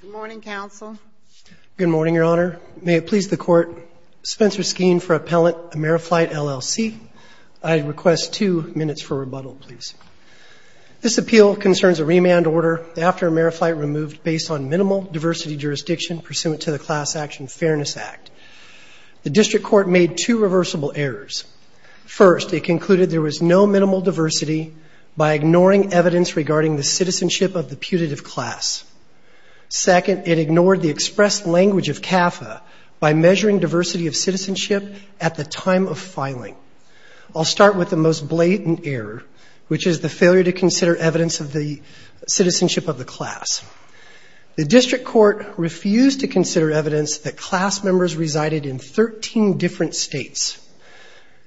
Good morning, Counsel. Good morning, Your Honor. May it please the Court, Spencer Skeen for Appellant Ameriflight, LLC. I request two minutes for rebuttal, please. This appeal concerns a remand order after Ameriflight removed based on minimal diversity jurisdiction pursuant to the Class Action Fairness Act. The District Court made two reversible errors. First, it concluded there was no minimal diversity by ignoring evidence regarding the citizenship of the putative class. Second, it ignored the expressed language of CAFA by measuring diversity of citizenship at the time of filing. I'll start with the most blatant error, which is the failure to consider evidence of the citizenship of the class. The District Court refused to consider evidence that class members resided in 13 different states.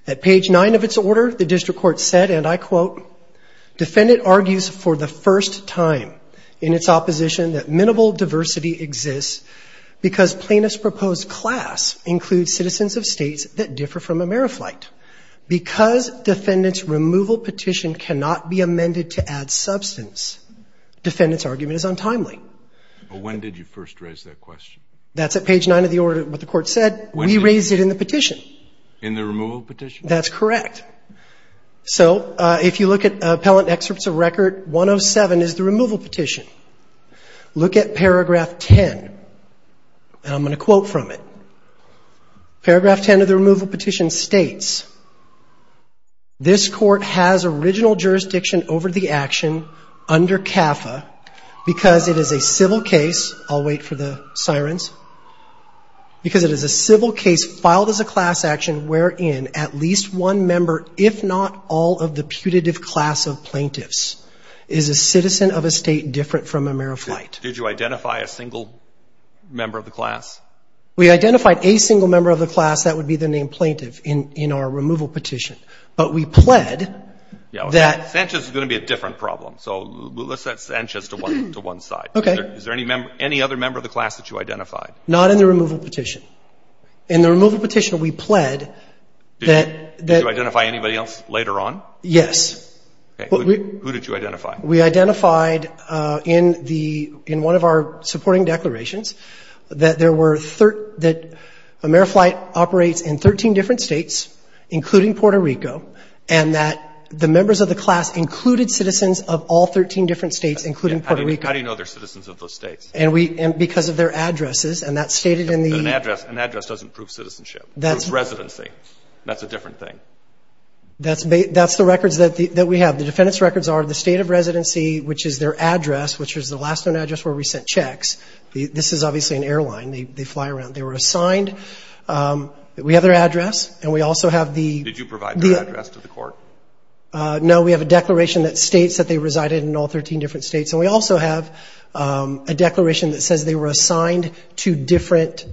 At page 9 of its order, the District Court said, and I quote, defendant argues for the first time in its opposition that minimal diversity exists because plaintiff's proposed class includes citizens of states that differ from Ameriflight. Because defendant's removal petition cannot be amended to add substance, defendant's argument is untimely. When did you first raise that question? That's at page 9 of the order, what the court said. We raised it in the petition. In the removal petition? That's correct. So if you look at Appellant Excerpts of Record 107 is the removal petition. Look at paragraph 10, and I'm going to quote from it. Paragraph 10 of the removal petition states, this court has original jurisdiction over the action under CAFA because it is a civil case. I'll wait for the sirens. Because it is a civil case filed as a class action wherein at least one member, if not all of the putative class of plaintiffs, is a citizen of a state different from Ameriflight. Did you identify a single member of the class? We identified a single member of the class. That would be the name plaintiff in our removal petition. But we pled that... Sanchez is going to be a different problem. So let's set Sanchez to one side. Okay. Is there any other member of the class that you identified? Not in the removal petition. In the removal petition we pled that... Did you identify anybody else later on? Yes. Okay. Who did you identify? We identified in one of our supporting declarations that Ameriflight operates in 13 different states, including Puerto Rico, and that the members of the class included citizens of all 13 different states, including Puerto Rico. How do you know they're citizens of those states? Because of their addresses, and that's stated in the... An address doesn't prove citizenship. It proves residency. That's a different thing. That's the records that we have. The defendant's records are the state of residency, which is their address, which is the last known address where we sent checks. This is obviously an airline. They fly around. They were assigned. We have their address, and we also have the... Did you provide their address to the court? No. We have a declaration that states that they resided in all 13 different states, and we also have a declaration that says they were assigned to different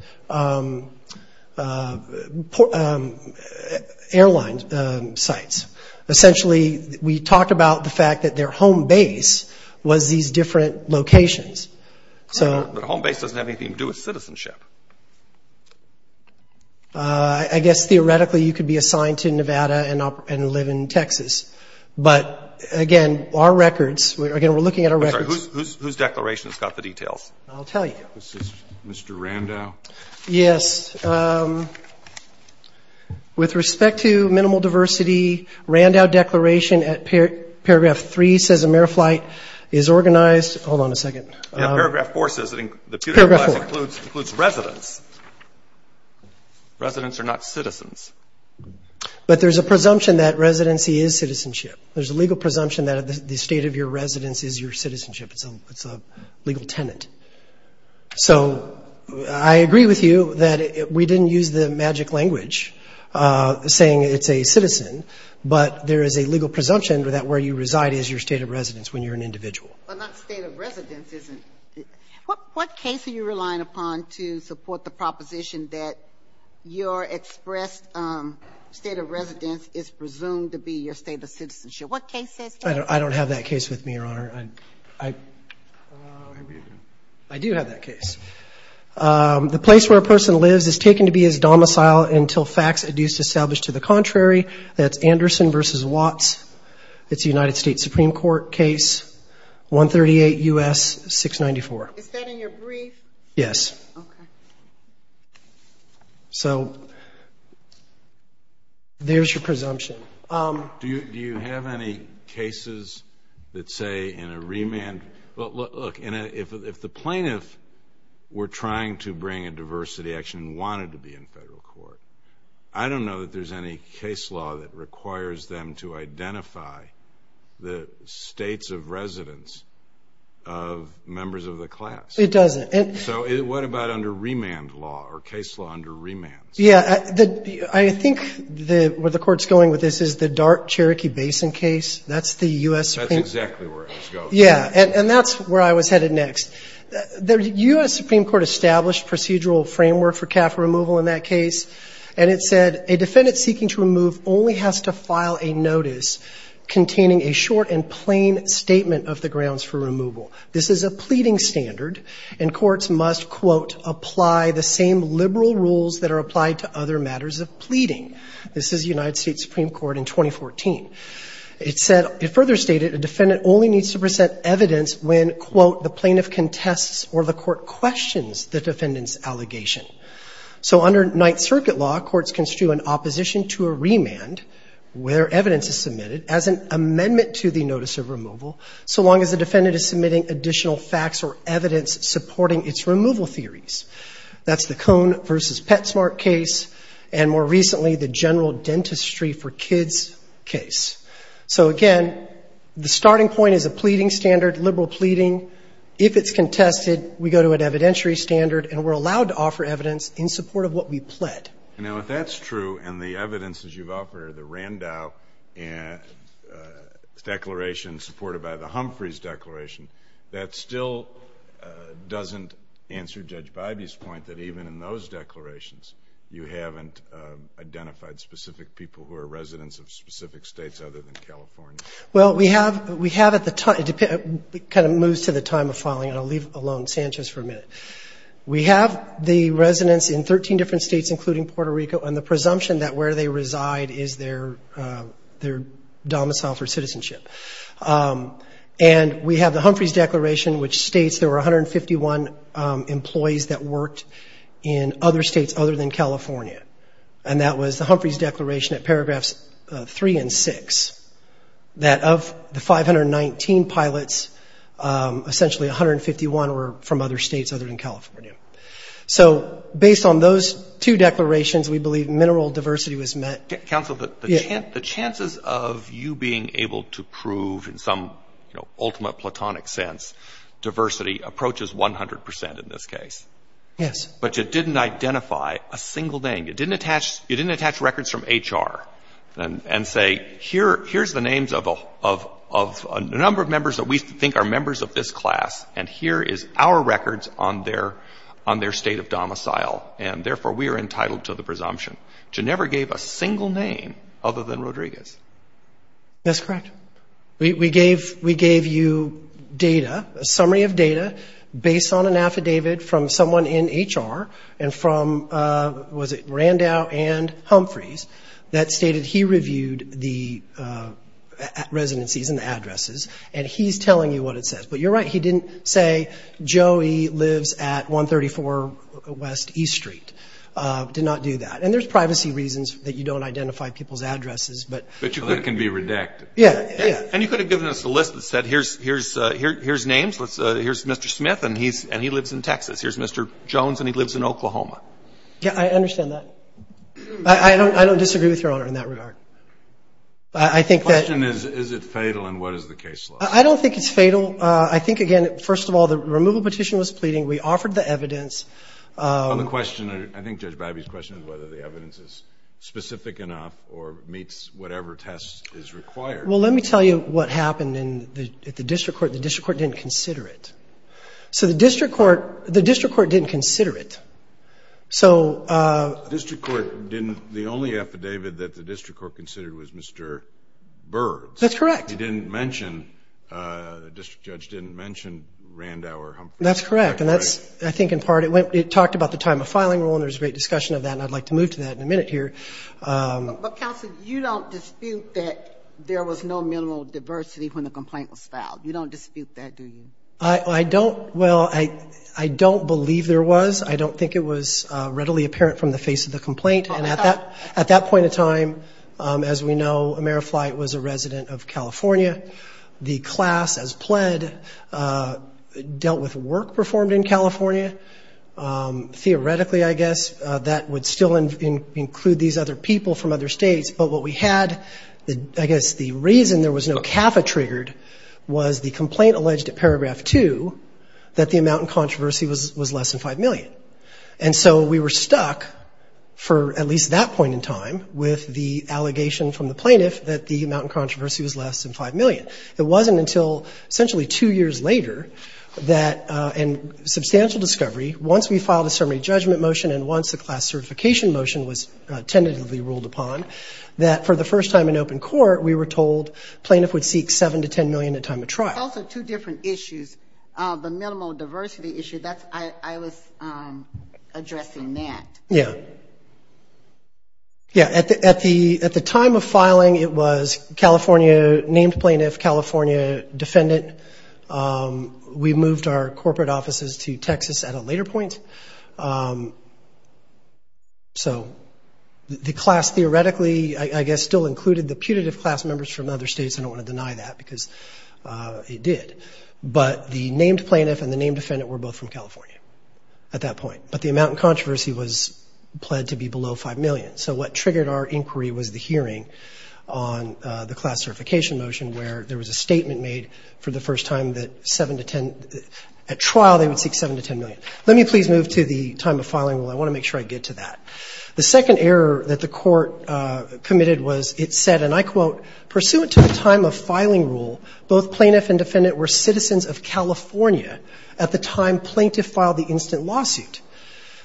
airline sites. Essentially, we talked about the fact that their home base was these different locations. But a home base doesn't have anything to do with citizenship. I guess, theoretically, you could be assigned to Nevada and live in Texas. But, again, our records, again, we're looking at our records. I'm sorry. Whose declaration has got the details? I'll tell you. This is Mr. Randau. Yes. With respect to minimal diversity, Randau declaration at paragraph 3 says AmeriFlight is organized. Hold on a second. Yeah, paragraph 4 says it includes... Paragraph 4. ...includes residents. Residents are not citizens. But there's a presumption that residency is citizenship. There's a legal presumption that the state of your residence is your citizenship. It's a legal tenant. So I agree with you that we didn't use the magic language saying it's a citizen, but there is a legal presumption that where you reside is your state of residence when you're an individual. But not state of residence isn't... What case are you relying upon to support the proposition that your expressed state of residence is presumed to be your state of citizenship? What case is that? I don't have that case with me, Your Honor. I do have that case. The place where a person lives is taken to be his domicile until facts are used to establish to the contrary. That's Anderson v. Watts. It's a United States Supreme Court case. 138 U.S. 694. Is that in your brief? Yes. Okay. So there's your presumption. Do you have any cases that say in a remand... Look, if the plaintiff were trying to bring a diversity action and wanted to be in federal court, I don't know that there's any case law that requires them to identify the states of residence of members of the class. It doesn't. So what about under remand law or case law under remand? Yeah. I think where the Court's going with this is the Dart-Cherokee Basin case. That's the U.S. Supreme... That's exactly where I was going. Yeah. And that's where I was headed next. The U.S. Supreme Court established procedural framework for CAF removal in that case, and it said a defendant seeking to remove only has to file a notice containing a short and plain statement of the grounds for removal. This is a pleading standard, and courts must, quote, apply the same liberal rules that are applied to other matters of pleading. This is United States Supreme Court in 2014. It further stated a defendant only needs to present evidence when, quote, the plaintiff contests or the court questions the defendant's allegation. So under Ninth Circuit law, courts construe an opposition to a remand where evidence is submitted as an amendment to the notice of removal so long as the defendant is submitting additional facts or evidence supporting its removal theories. That's the Cone v. Petsmart case and, more recently, the General Dentistry for Kids case. So, again, the starting point is a pleading standard, liberal pleading. If it's contested, we go to an evidentiary standard, and we're allowed to offer evidence in support of what we pled. Now, if that's true and the evidence, as you've offered, the Randau Declaration supported by the Humphreys Declaration, that still doesn't answer Judge Bybee's point that even in those declarations you haven't identified specific people who are residents of specific states other than California. Well, we have at the time. It kind of moves to the time of filing, and I'll leave alone Sanchez for a minute. We have the residents in 13 different states, including Puerto Rico, and the presumption that where they reside is their domicile for citizenship. And we have the Humphreys Declaration, which states there were 151 employees that worked in other states other than California, and that was the Humphreys Declaration at paragraphs 3 and 6, that of the 519 pilots, essentially 151 were from other states other than California. So based on those two declarations, we believe mineral diversity was met. Counsel, the chances of you being able to prove in some ultimate platonic sense diversity approaches 100% in this case. Yes. But you didn't identify a single name. You didn't attach records from HR and say, here's the names of a number of members that we think are members of this class, and here is our records on their state of domicile, and therefore we are entitled to the presumption to never gave a single name other than Rodriguez. That's correct. We gave you data, a summary of data, based on an affidavit from someone in HR and from, was it Randall and Humphreys, that stated he reviewed the residencies and the addresses, and he's telling you what it says. But you're right, he didn't say, Joey lives at 134 West East Street. Did not do that. And there's privacy reasons that you don't identify people's addresses, but... But you could have been redacted. Yeah, yeah. And you could have given us a list that said, here's names, here's Mr. Smith, and he lives in Texas. Here's Mr. Jones, and he lives in Oklahoma. Yeah, I understand that. I don't disagree with Your Honor in that regard. I think that... The question is, is it fatal, and what is the case law? I don't think it's fatal. I think, again, first of all, the removal petition was pleading. We offered the evidence. The question, I think Judge Babby's question is whether the evidence is specific enough or meets whatever test is required. Well, let me tell you what happened in the district court. The district court didn't consider it. So the district court didn't consider it. So... The district court didn't... The only affidavit that the district court considered was Mr. Bird's. That's correct. He didn't mention... The district judge didn't mention Randauer, Humphrey. That's correct. And that's, I think, in part, it talked about the time of filing rule, and there was a great discussion of that, and I'd like to move to that in a minute here. But, counsel, you don't dispute that there was no minimal diversity when the complaint was filed. You don't dispute that, do you? I don't. Well, I don't believe there was. I don't think it was readily apparent from the face of the complaint. And at that point in time, as we know, Ameriflight was a resident of California. The class, as pled, dealt with work performed in California. Theoretically, I guess, that would still include these other people from other states. But what we had, I guess, the reason there was no CAFA triggered was the complaint alleged at paragraph 2 that the amount in controversy was less than $5 million. And so we were stuck, for at least that point in time, with the allegation from the plaintiff that the amount in controversy was less than $5 million. It wasn't until essentially two years later that, in substantial discovery, once we filed a ceremony judgment motion and once the class certification motion was tentatively ruled upon, that for the first time in open court, we were told plaintiff would seek $7 to $10 million at time of trial. There's also two different issues. The minimal diversity issue, I was addressing that. Yeah. Yeah, at the time of filing, it was named plaintiff, California defendant. We moved our corporate offices to Texas at a later point. So the class theoretically, I guess, still included the putative class members from other states. I don't want to deny that because it did. But the named plaintiff and the named defendant were both from California at that point. But the amount in controversy was pled to be below $5 million. So what triggered our inquiry was the hearing on the class certification motion where there was a statement made for the first time that at trial they would seek $7 to $10 million. Let me please move to the time of filing. Well, I want to make sure I get to that. The second error that the court committed was it said, and I quote, pursuant to the time of filing rule, both plaintiff and defendant were citizens of California at the time plaintiff filed the instant lawsuit.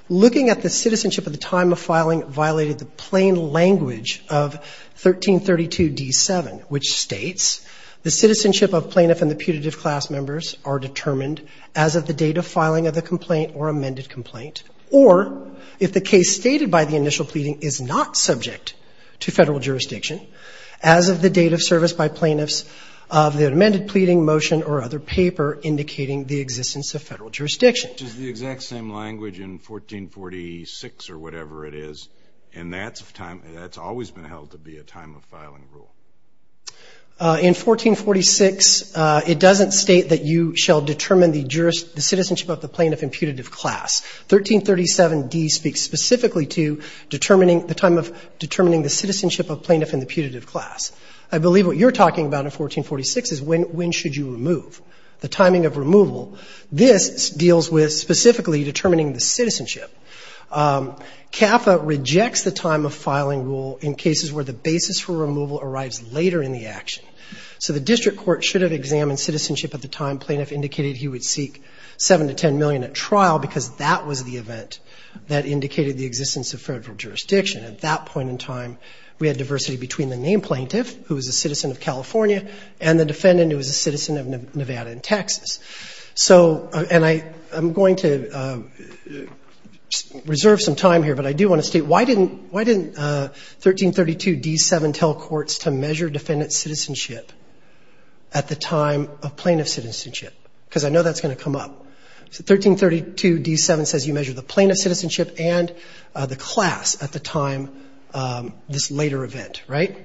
Looking at the citizenship at the time of filing violated the plain language of 1332d7, which states the citizenship of plaintiff and the putative class members are determined as of the date of filing of the complaint or amended complaint, or if the case stated by the initial pleading is not subject to federal jurisdiction, as of the date of service by plaintiffs of the amended pleading, motion, or other paper indicating the existence of federal jurisdiction. Which is the exact same language in 1446 or whatever it is, and that's always been held to be a time of filing rule. In 1446 it doesn't state that you shall determine the citizenship of the plaintiff and putative class. 1337d speaks specifically to the time of determining the citizenship of plaintiff and the putative class. I believe what you're talking about in 1446 is when should you remove. The timing of removal, this deals with specifically determining the citizenship. CAFA rejects the time of filing rule in cases where the basis for removal arrives later in the action. So the district court should have examined citizenship at the time plaintiff indicated he would seek 7 to 10 million at trial because that was the event that indicated the existence of federal jurisdiction. At that point in time, we had diversity between the named plaintiff, who was a citizen of California, and the defendant, who was a citizen of Nevada and Texas. So, and I'm going to reserve some time here, but I do want to state, why didn't 1332d-7 tell courts to measure defendant's citizenship at the time of plaintiff's citizenship? Because I know that's going to come up. 1332d-7 says you measure the plaintiff's citizenship and the class at the time this later event, right?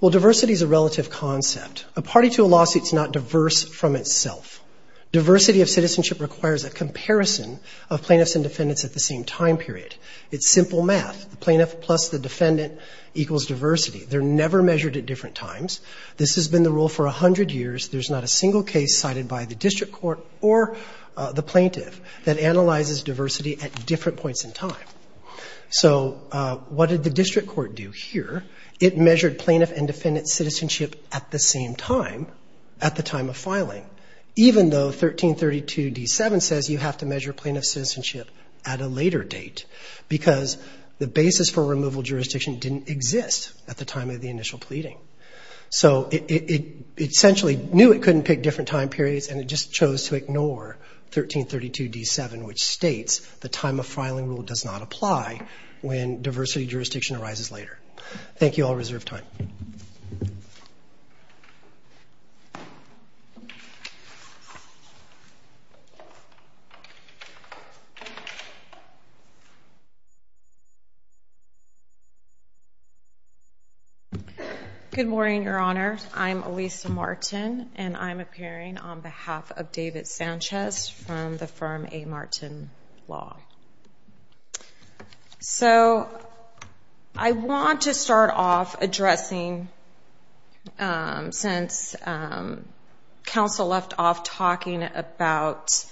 Well, diversity is a relative concept. A party to a lawsuit is not diverse from itself. Diversity of citizenship requires a comparison of plaintiffs and defendants at the same time period. It's simple math. The plaintiff plus the defendant equals diversity. They're never measured at different times. This has been the rule for 100 years. There's not a single case cited by the district court or the plaintiff that analyzes diversity at different points in time. So what did the district court do here? It measured plaintiff and defendant's citizenship at the same time, at the time of filing, even though 1332d-7 says you have to measure plaintiff's citizenship at a later date, because the basis for removal jurisdiction didn't exist at the time of the initial pleading. So it essentially knew it couldn't pick different time periods, and it just chose to ignore 1332d-7, which states the time of filing rule does not apply when diversity jurisdiction arises later. Thank you. I'll reserve time. Good morning, Your Honor. I'm Elisa Martin, and I'm appearing on behalf of David Sanchez from the firm A. Martin Law. So I want to start off addressing, since counsel left off talking about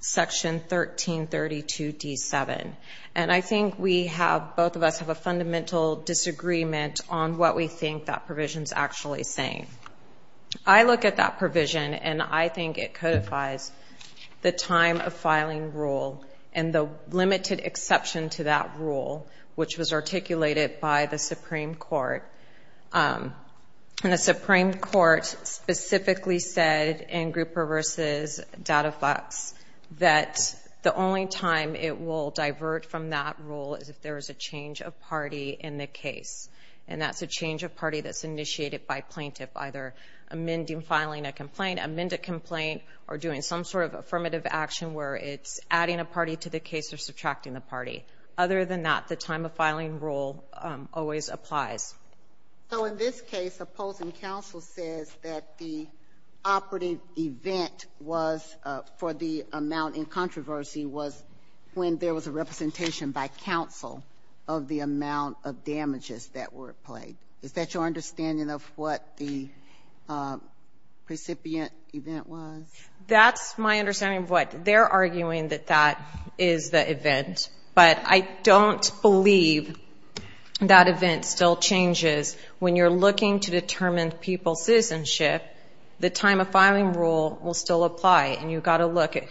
Section 1332d-7, and I think we have, both of us have, a fundamental disagreement on what we think that provision's actually saying. I look at that provision, and I think it codifies the time of filing rule and the limited exception to that rule, which was articulated by the Supreme Court. And the Supreme Court specifically said in Grouper v. Datafox that the only time it will divert from that rule is if there is a change of party in the case, and that's a change of party that's initiated by plaintiff, either amending, filing a complaint, amend a complaint, or doing some sort of affirmative action where it's adding a party to the case or subtracting the party. Other than that, the time of filing rule always applies. So in this case, opposing counsel says that the operative event for the amount in controversy was when there was a representation by counsel of the amount of damages that were played. Is that your understanding of what the recipient event was? That's my understanding of what. They're arguing that that is the event, but I don't believe that event still changes. When you're looking to determine people's citizenship, the time of filing rule will still apply, and you've got to look at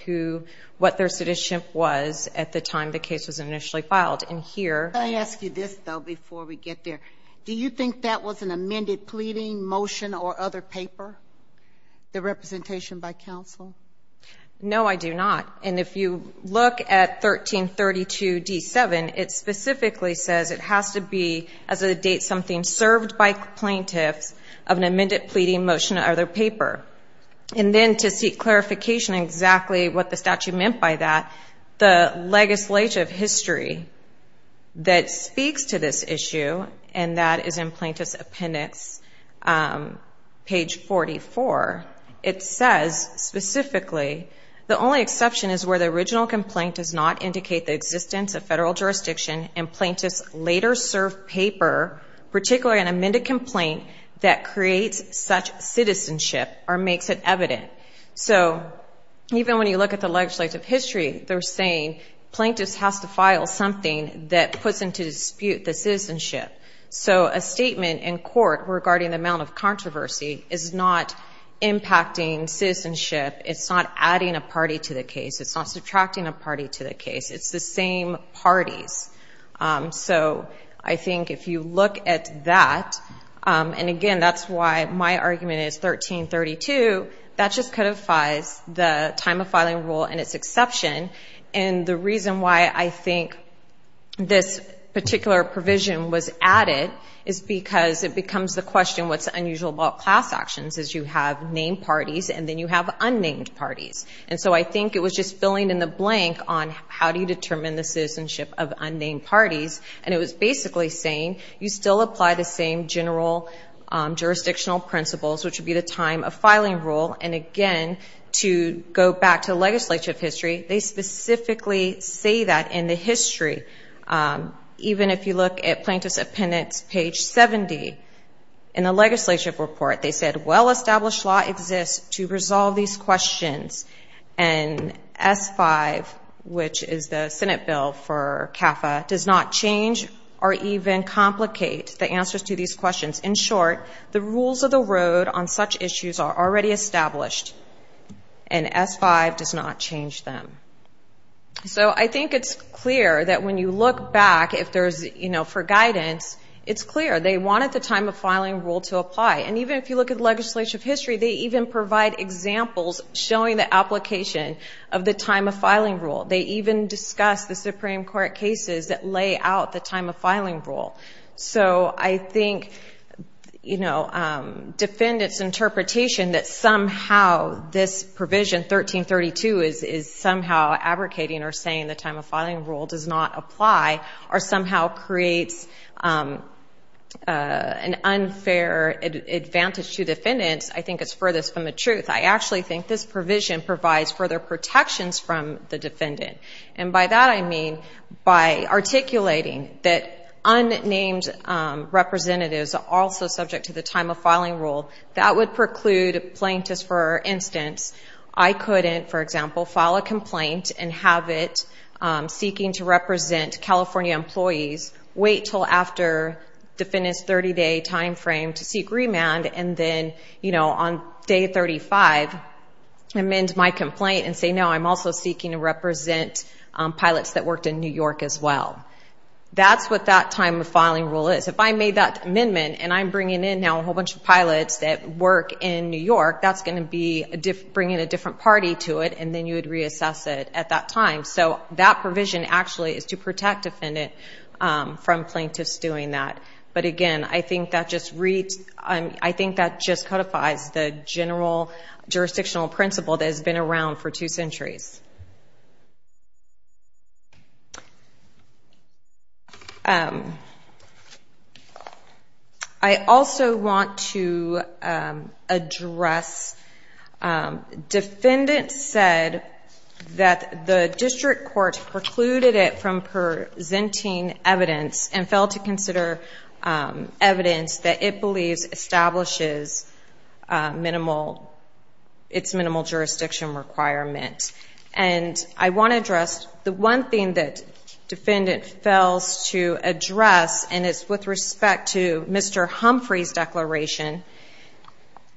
what their citizenship was at the time the case was initially filed. Can I ask you this, though, before we get there? Do you think that was an amended pleading, motion, or other paper, the representation by counsel? No, I do not. And if you look at 1332d7, it specifically says it has to be as of the date something served by plaintiffs of an amended pleading, motion, or other paper. And then to seek clarification on exactly what the statute meant by that, the legislature of history that speaks to this issue, and that is in Plaintiff's Appendix, page 44, it says specifically, the only exception is where the original complaint does not indicate the existence of federal jurisdiction and plaintiffs later serve paper, particularly an amended complaint, that creates such citizenship or makes it evident. So even when you look at the legislative history, they're saying plaintiffs have to file something that puts into dispute the citizenship. So a statement in court regarding the amount of controversy is not impacting citizenship. It's not adding a party to the case. It's not subtracting a party to the case. It's the same parties. So I think if you look at that, and again, that's why my argument is 1332, that just codifies the time of filing rule and its exception, and the reason why I think this particular provision was added is because it becomes the question, what's unusual about class actions is you have named parties, and then you have unnamed parties. And so I think it was just filling in the blank on how do you determine the citizenship of unnamed parties, and it was basically saying you still apply the same general jurisdictional principles, which would be the time of filing rule. And again, to go back to legislative history, they specifically say that in the history. Even if you look at Plaintiff's Appendix, page 70, in the legislative report, they said, well-established law exists to resolve these questions, and S-5, which is the Senate bill for CAFA, does not change or even complicate the answers to these questions. In short, the rules of the road on such issues are already established, and S-5 does not change them. So I think it's clear that when you look back, if there's, you know, for guidance, it's clear. They wanted the time of filing rule to apply, and even if you look at legislative history, they even provide examples showing the application of the time of filing rule. They even discuss the Supreme Court cases that lay out the time of filing rule. So I think, you know, defendants' interpretation that somehow this provision, 1332, is somehow abrogating or saying the time of filing rule does not apply or somehow creates an unfair advantage to defendants, I think it's furthest from the truth. I actually think this provision provides further protections from the defendant, and by that I mean by articulating that unnamed representatives are also subject to the time of filing rule. That would preclude plaintiffs, for instance, I couldn't, for example, file a complaint and have it seeking to represent California employees, wait till after defendant's 30-day time frame to seek remand, and then, you know, on day 35 amend my complaint and say, no, I'm also seeking to represent pilots that worked in New York as well. That's what that time of filing rule is. If I made that amendment and I'm bringing in now a whole bunch of pilots that work in New York, that's going to be bringing a different party to it and then you would reassess it at that time. So that provision actually is to protect defendant from plaintiffs doing that. But again, I think that just codifies the general jurisdictional principle that has been around for two centuries. I also want to address, defendant said that the district court precluded it from presenting evidence and failed to consider evidence that it believes establishes its minimal jurisdiction requirement. And I want to address, the one thing that defendant fails to address and it's with respect to Mr. Humphrey's declaration.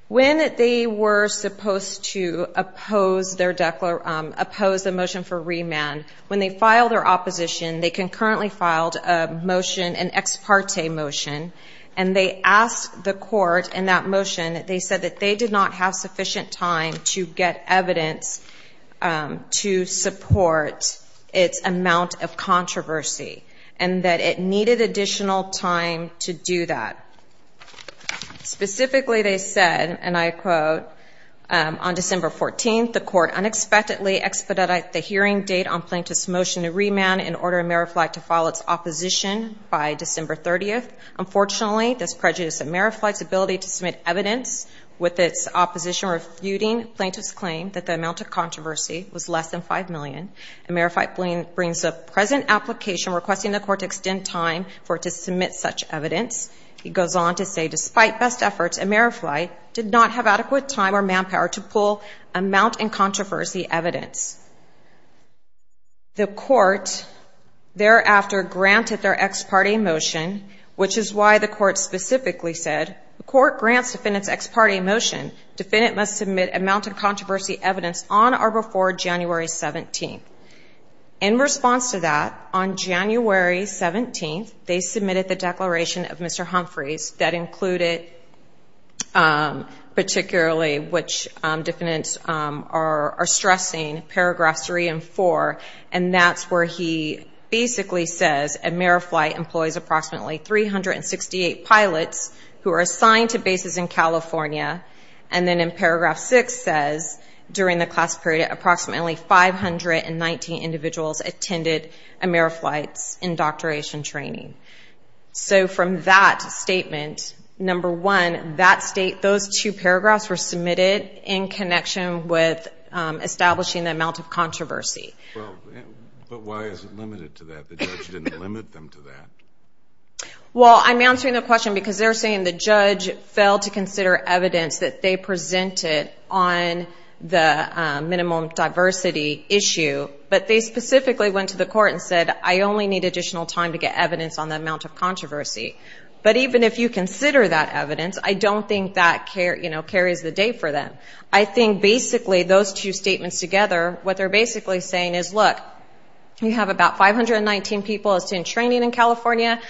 When they were supposed to oppose the motion for remand, when they filed their opposition, they concurrently filed a motion, an ex parte motion, and they asked the court in that motion, they said that they did not have sufficient time to get evidence to support its amount of controversy and that it needed additional time to do that. Specifically, they said, and I quote, on December 14th, the court unexpectedly expedited the hearing date on plaintiff's motion to remand in order for Merrifleet to file its opposition by December 30th. Unfortunately, this prejudiced Merrifleet's ability to submit evidence with its opposition refuting plaintiff's claim that the amount of controversy was less than $5 million. Merrifleet brings a present application requesting the court to extend time for it to submit such evidence. He goes on to say, despite best efforts, Merrifleet did not have adequate time or manpower to pull amount in controversy evidence. The court thereafter granted their ex parte motion, which is why the court specifically said, the court grants defendant's ex parte motion. Defendant must submit amount in controversy evidence on or before January 17th. In response to that, on January 17th, they submitted the declaration of Mr. Humphreys that included, particularly, which defendants are stressing, paragraphs three and four, and that's where he basically says Merrifleet employs approximately 368 pilots who are assigned to bases in California and then in paragraph six says, during the class period, approximately 519 individuals attended Merrifleet's indoctrination training. So from that statement, number one, those two paragraphs were submitted in connection with establishing the amount of controversy. But why is it limited to that? The judge didn't limit them to that. Well, I'm answering the question because they're saying the judge failed to consider evidence that they presented on the minimum diversity issue, but they specifically went to the court and said, I only need additional time to get evidence on the amount of controversy. But even if you consider that evidence, I don't think that carries the day for them. I think, basically, those two statements together, what they're basically saying is, look, you have about 519 people that's doing training in California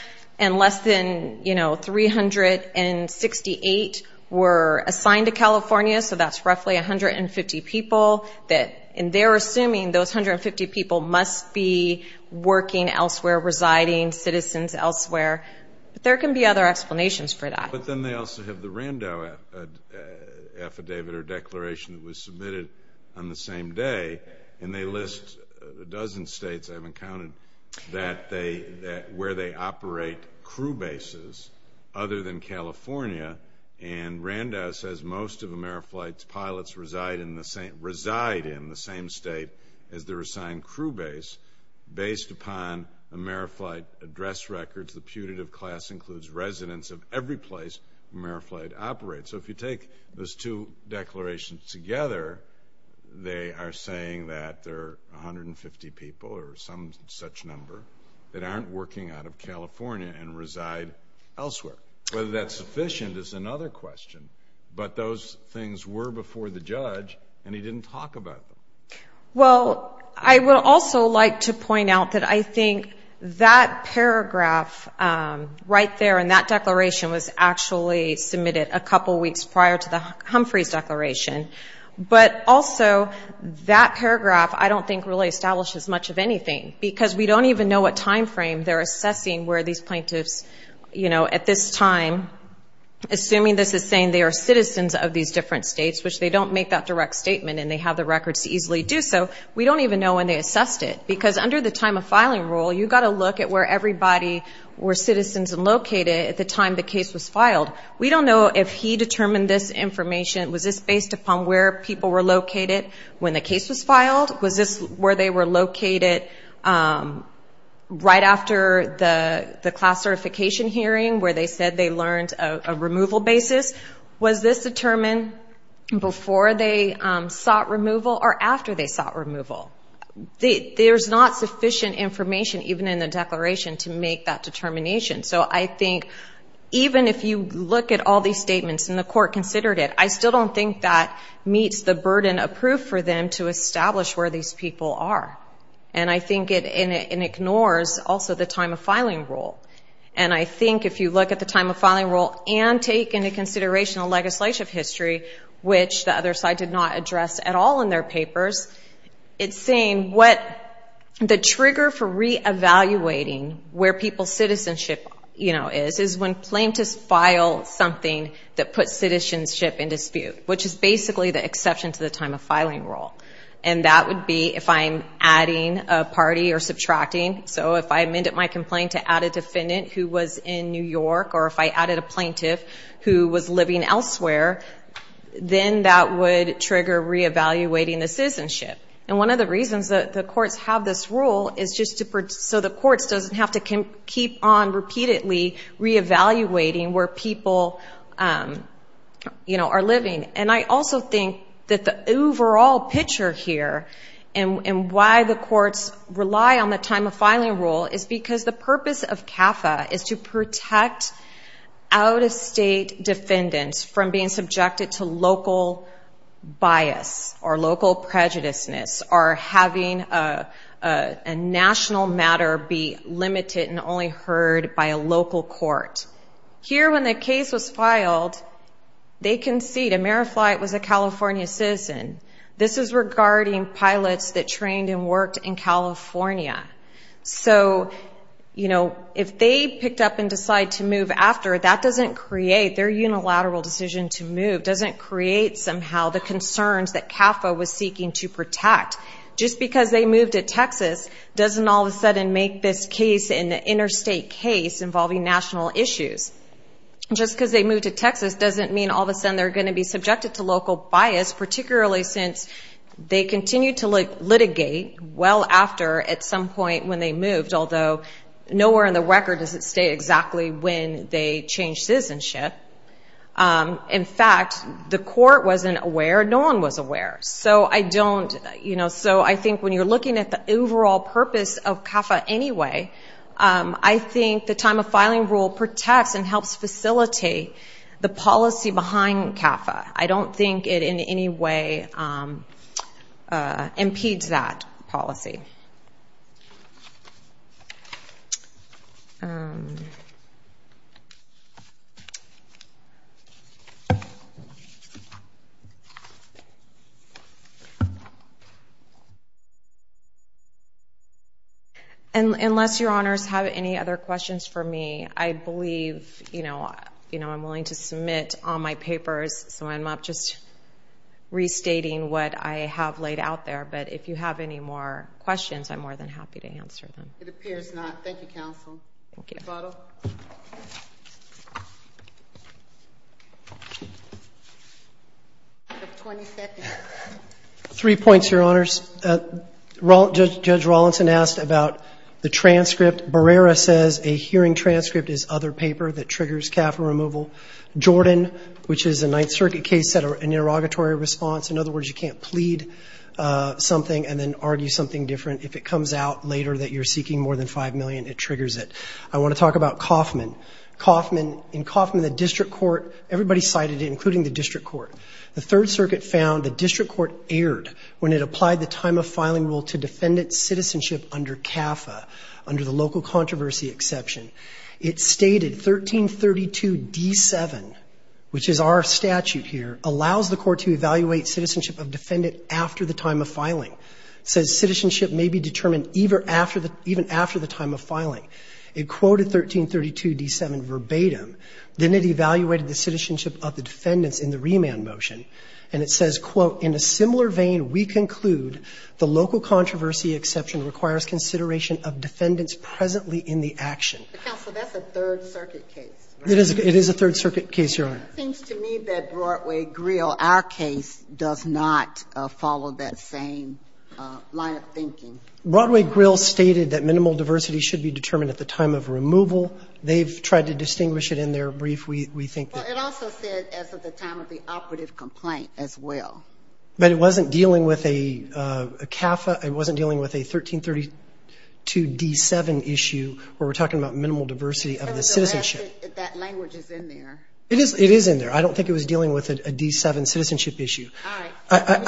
and less than 368 were assigned to California, so that's roughly 150 people, and they're assuming those 150 people must be working elsewhere, residing, citizens elsewhere. There can be other explanations for that. But then they also have the Rando affidavit or declaration that was submitted on the same day, and they list a dozen states, I haven't counted, where they operate crew bases other than California, and Rando says most of AmeriFlight's pilots reside in the same state as their assigned crew base based upon AmeriFlight address records. The putative class includes residents of every place AmeriFlight operates. So if you take those two declarations together, they are saying that there are 150 people or some such number that aren't working out of California and reside elsewhere. Whether that's sufficient is another question, but those things were before the judge, and he didn't talk about them. Well, I would also like to point out that I think that paragraph right there in that declaration was actually submitted a couple weeks prior to Humphrey's declaration, but also that paragraph I don't think really establishes much of anything, because we don't even know what time frame they're assessing where these plaintiffs, at this time, assuming this is saying they are citizens of these different states, which they don't make that direct statement and they have the records to easily do so, we don't even know when they assessed it, because under the time of filing rule, you've got to look at where everybody were citizens and located at the time the case was filed. We don't know if he determined this information, was this based upon where people were located when the case was filed? Was this where they were located right after the class certification hearing where they said they learned a removal basis? Was this determined before they sought removal or after they sought removal? There's not sufficient information, even in the declaration, to make that determination, so I think even if you look at all these statements and the court considered it, I still don't think that meets the burden approved for them to establish where these people are, and I think it ignores also the time of filing rule, and I think if you look at the time of filing rule and take into consideration the legislative history, which the other side did not address at all in their papers, it's saying what the trigger for re-evaluating where people's citizenship is is when plaintiffs file something that puts citizenship in dispute, which is basically the exception to the time of filing rule, and that would be if I'm adding a party or subtracting, so if I amended my complaint to add a defendant who was in New York, or if I added a plaintiff who was living elsewhere, then that would trigger re-evaluating the citizenship, and one of the reasons that the courts have this rule is so the courts don't have to keep on repeatedly re-evaluating where people are living, and I also think that the overall picture here and why the courts rely on the time of filing rule is because the purpose of CAFA is to protect out-of-state defendants from being subjected to local bias or local prejudiceness or having a national matter be limited and only heard by a local court. Here, when the case was filed, they concede, AmeriFlight was a California citizen. This is regarding pilots that trained and worked in California. So, you know, if they picked up and decide to move after, that doesn't create their unilateral decision to move, doesn't create somehow the concerns that CAFA was seeking to protect. Just because they moved to Texas doesn't all of a sudden make this case an interstate case involving national issues. Just because they moved to Texas doesn't mean all of a sudden they're going to be subjected to local bias, particularly since they continue to litigate well after at some point when they moved, although nowhere in the record does it state exactly when they changed citizenship. In fact, the court wasn't aware. No one was aware. So I don't, you know, so I think when you're looking at the overall purpose of CAFA anyway, I think the time of filing rule protects and helps facilitate the policy behind CAFA. I don't think it in any way impedes that policy. Unless your honors have any other questions for me, I believe, you know, I'm willing to submit all my papers, so I'm not just restating what I have laid out there, but if you have any more questions, I'm more than happy to answer them. It appears not. Thank you, counsel. Okay. You have 20 seconds. Three points, your honors. Judge Rawlinson asked about the transcript. Barrera says a hearing transcript is other paper that triggers CAFA removal. Jordan, which is a Ninth Circuit case, said an interrogatory response. In other words, you can't plead something and then argue something different if it comes out later that you're seeking more than $5 million, it triggers it. I want to talk about Kauffman. In Kauffman, the district court, everybody cited it, including the district court. The Third Circuit found the district court erred when it applied the time of filing rule to defendant citizenship under CAFA, under the local controversy exception. It stated 1332d7, which is our statute here, allows the court to evaluate citizenship of defendant after the time of filing. It says citizenship may be determined even after the time of filing. It quoted 1332d7 verbatim. Then it evaluated the citizenship of the defendants in the remand motion. And it says, quote, In a similar vein, we conclude the local controversy exception requires consideration of defendants presently in the action. Counsel, that's a Third Circuit case. It is a Third Circuit case, your honor. It seems to me that Broadway-Grill, our case, does not follow that same line of thinking. Broadway-Grill stated that minimal diversity should be determined at the time of removal. They've tried to distinguish it in their brief. We think that... Well, it also said as of the time of the operative complaint as well. But it wasn't dealing with a CAFA. It wasn't dealing with a 1332d7 issue where we're talking about minimal diversity of the citizenship. That language is in there. It is in there. I don't think it was dealing with a d7 citizenship issue. All right.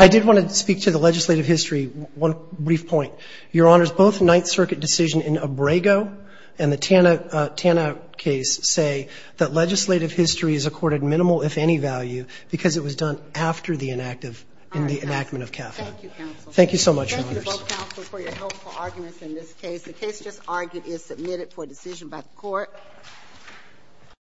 I did want to speak to the legislative history. One brief point. Your honors, both Ninth Circuit decision in Abrego and the Tanna case say that legislative history is accorded minimal, if any, value because it was done after the enactment of CAFA. All right. Thank you, counsel. Thank you so much, your honors. Thank you to both counsels for your helpful arguments in this case. The case just argued is submitted for decision by the court. Thank you.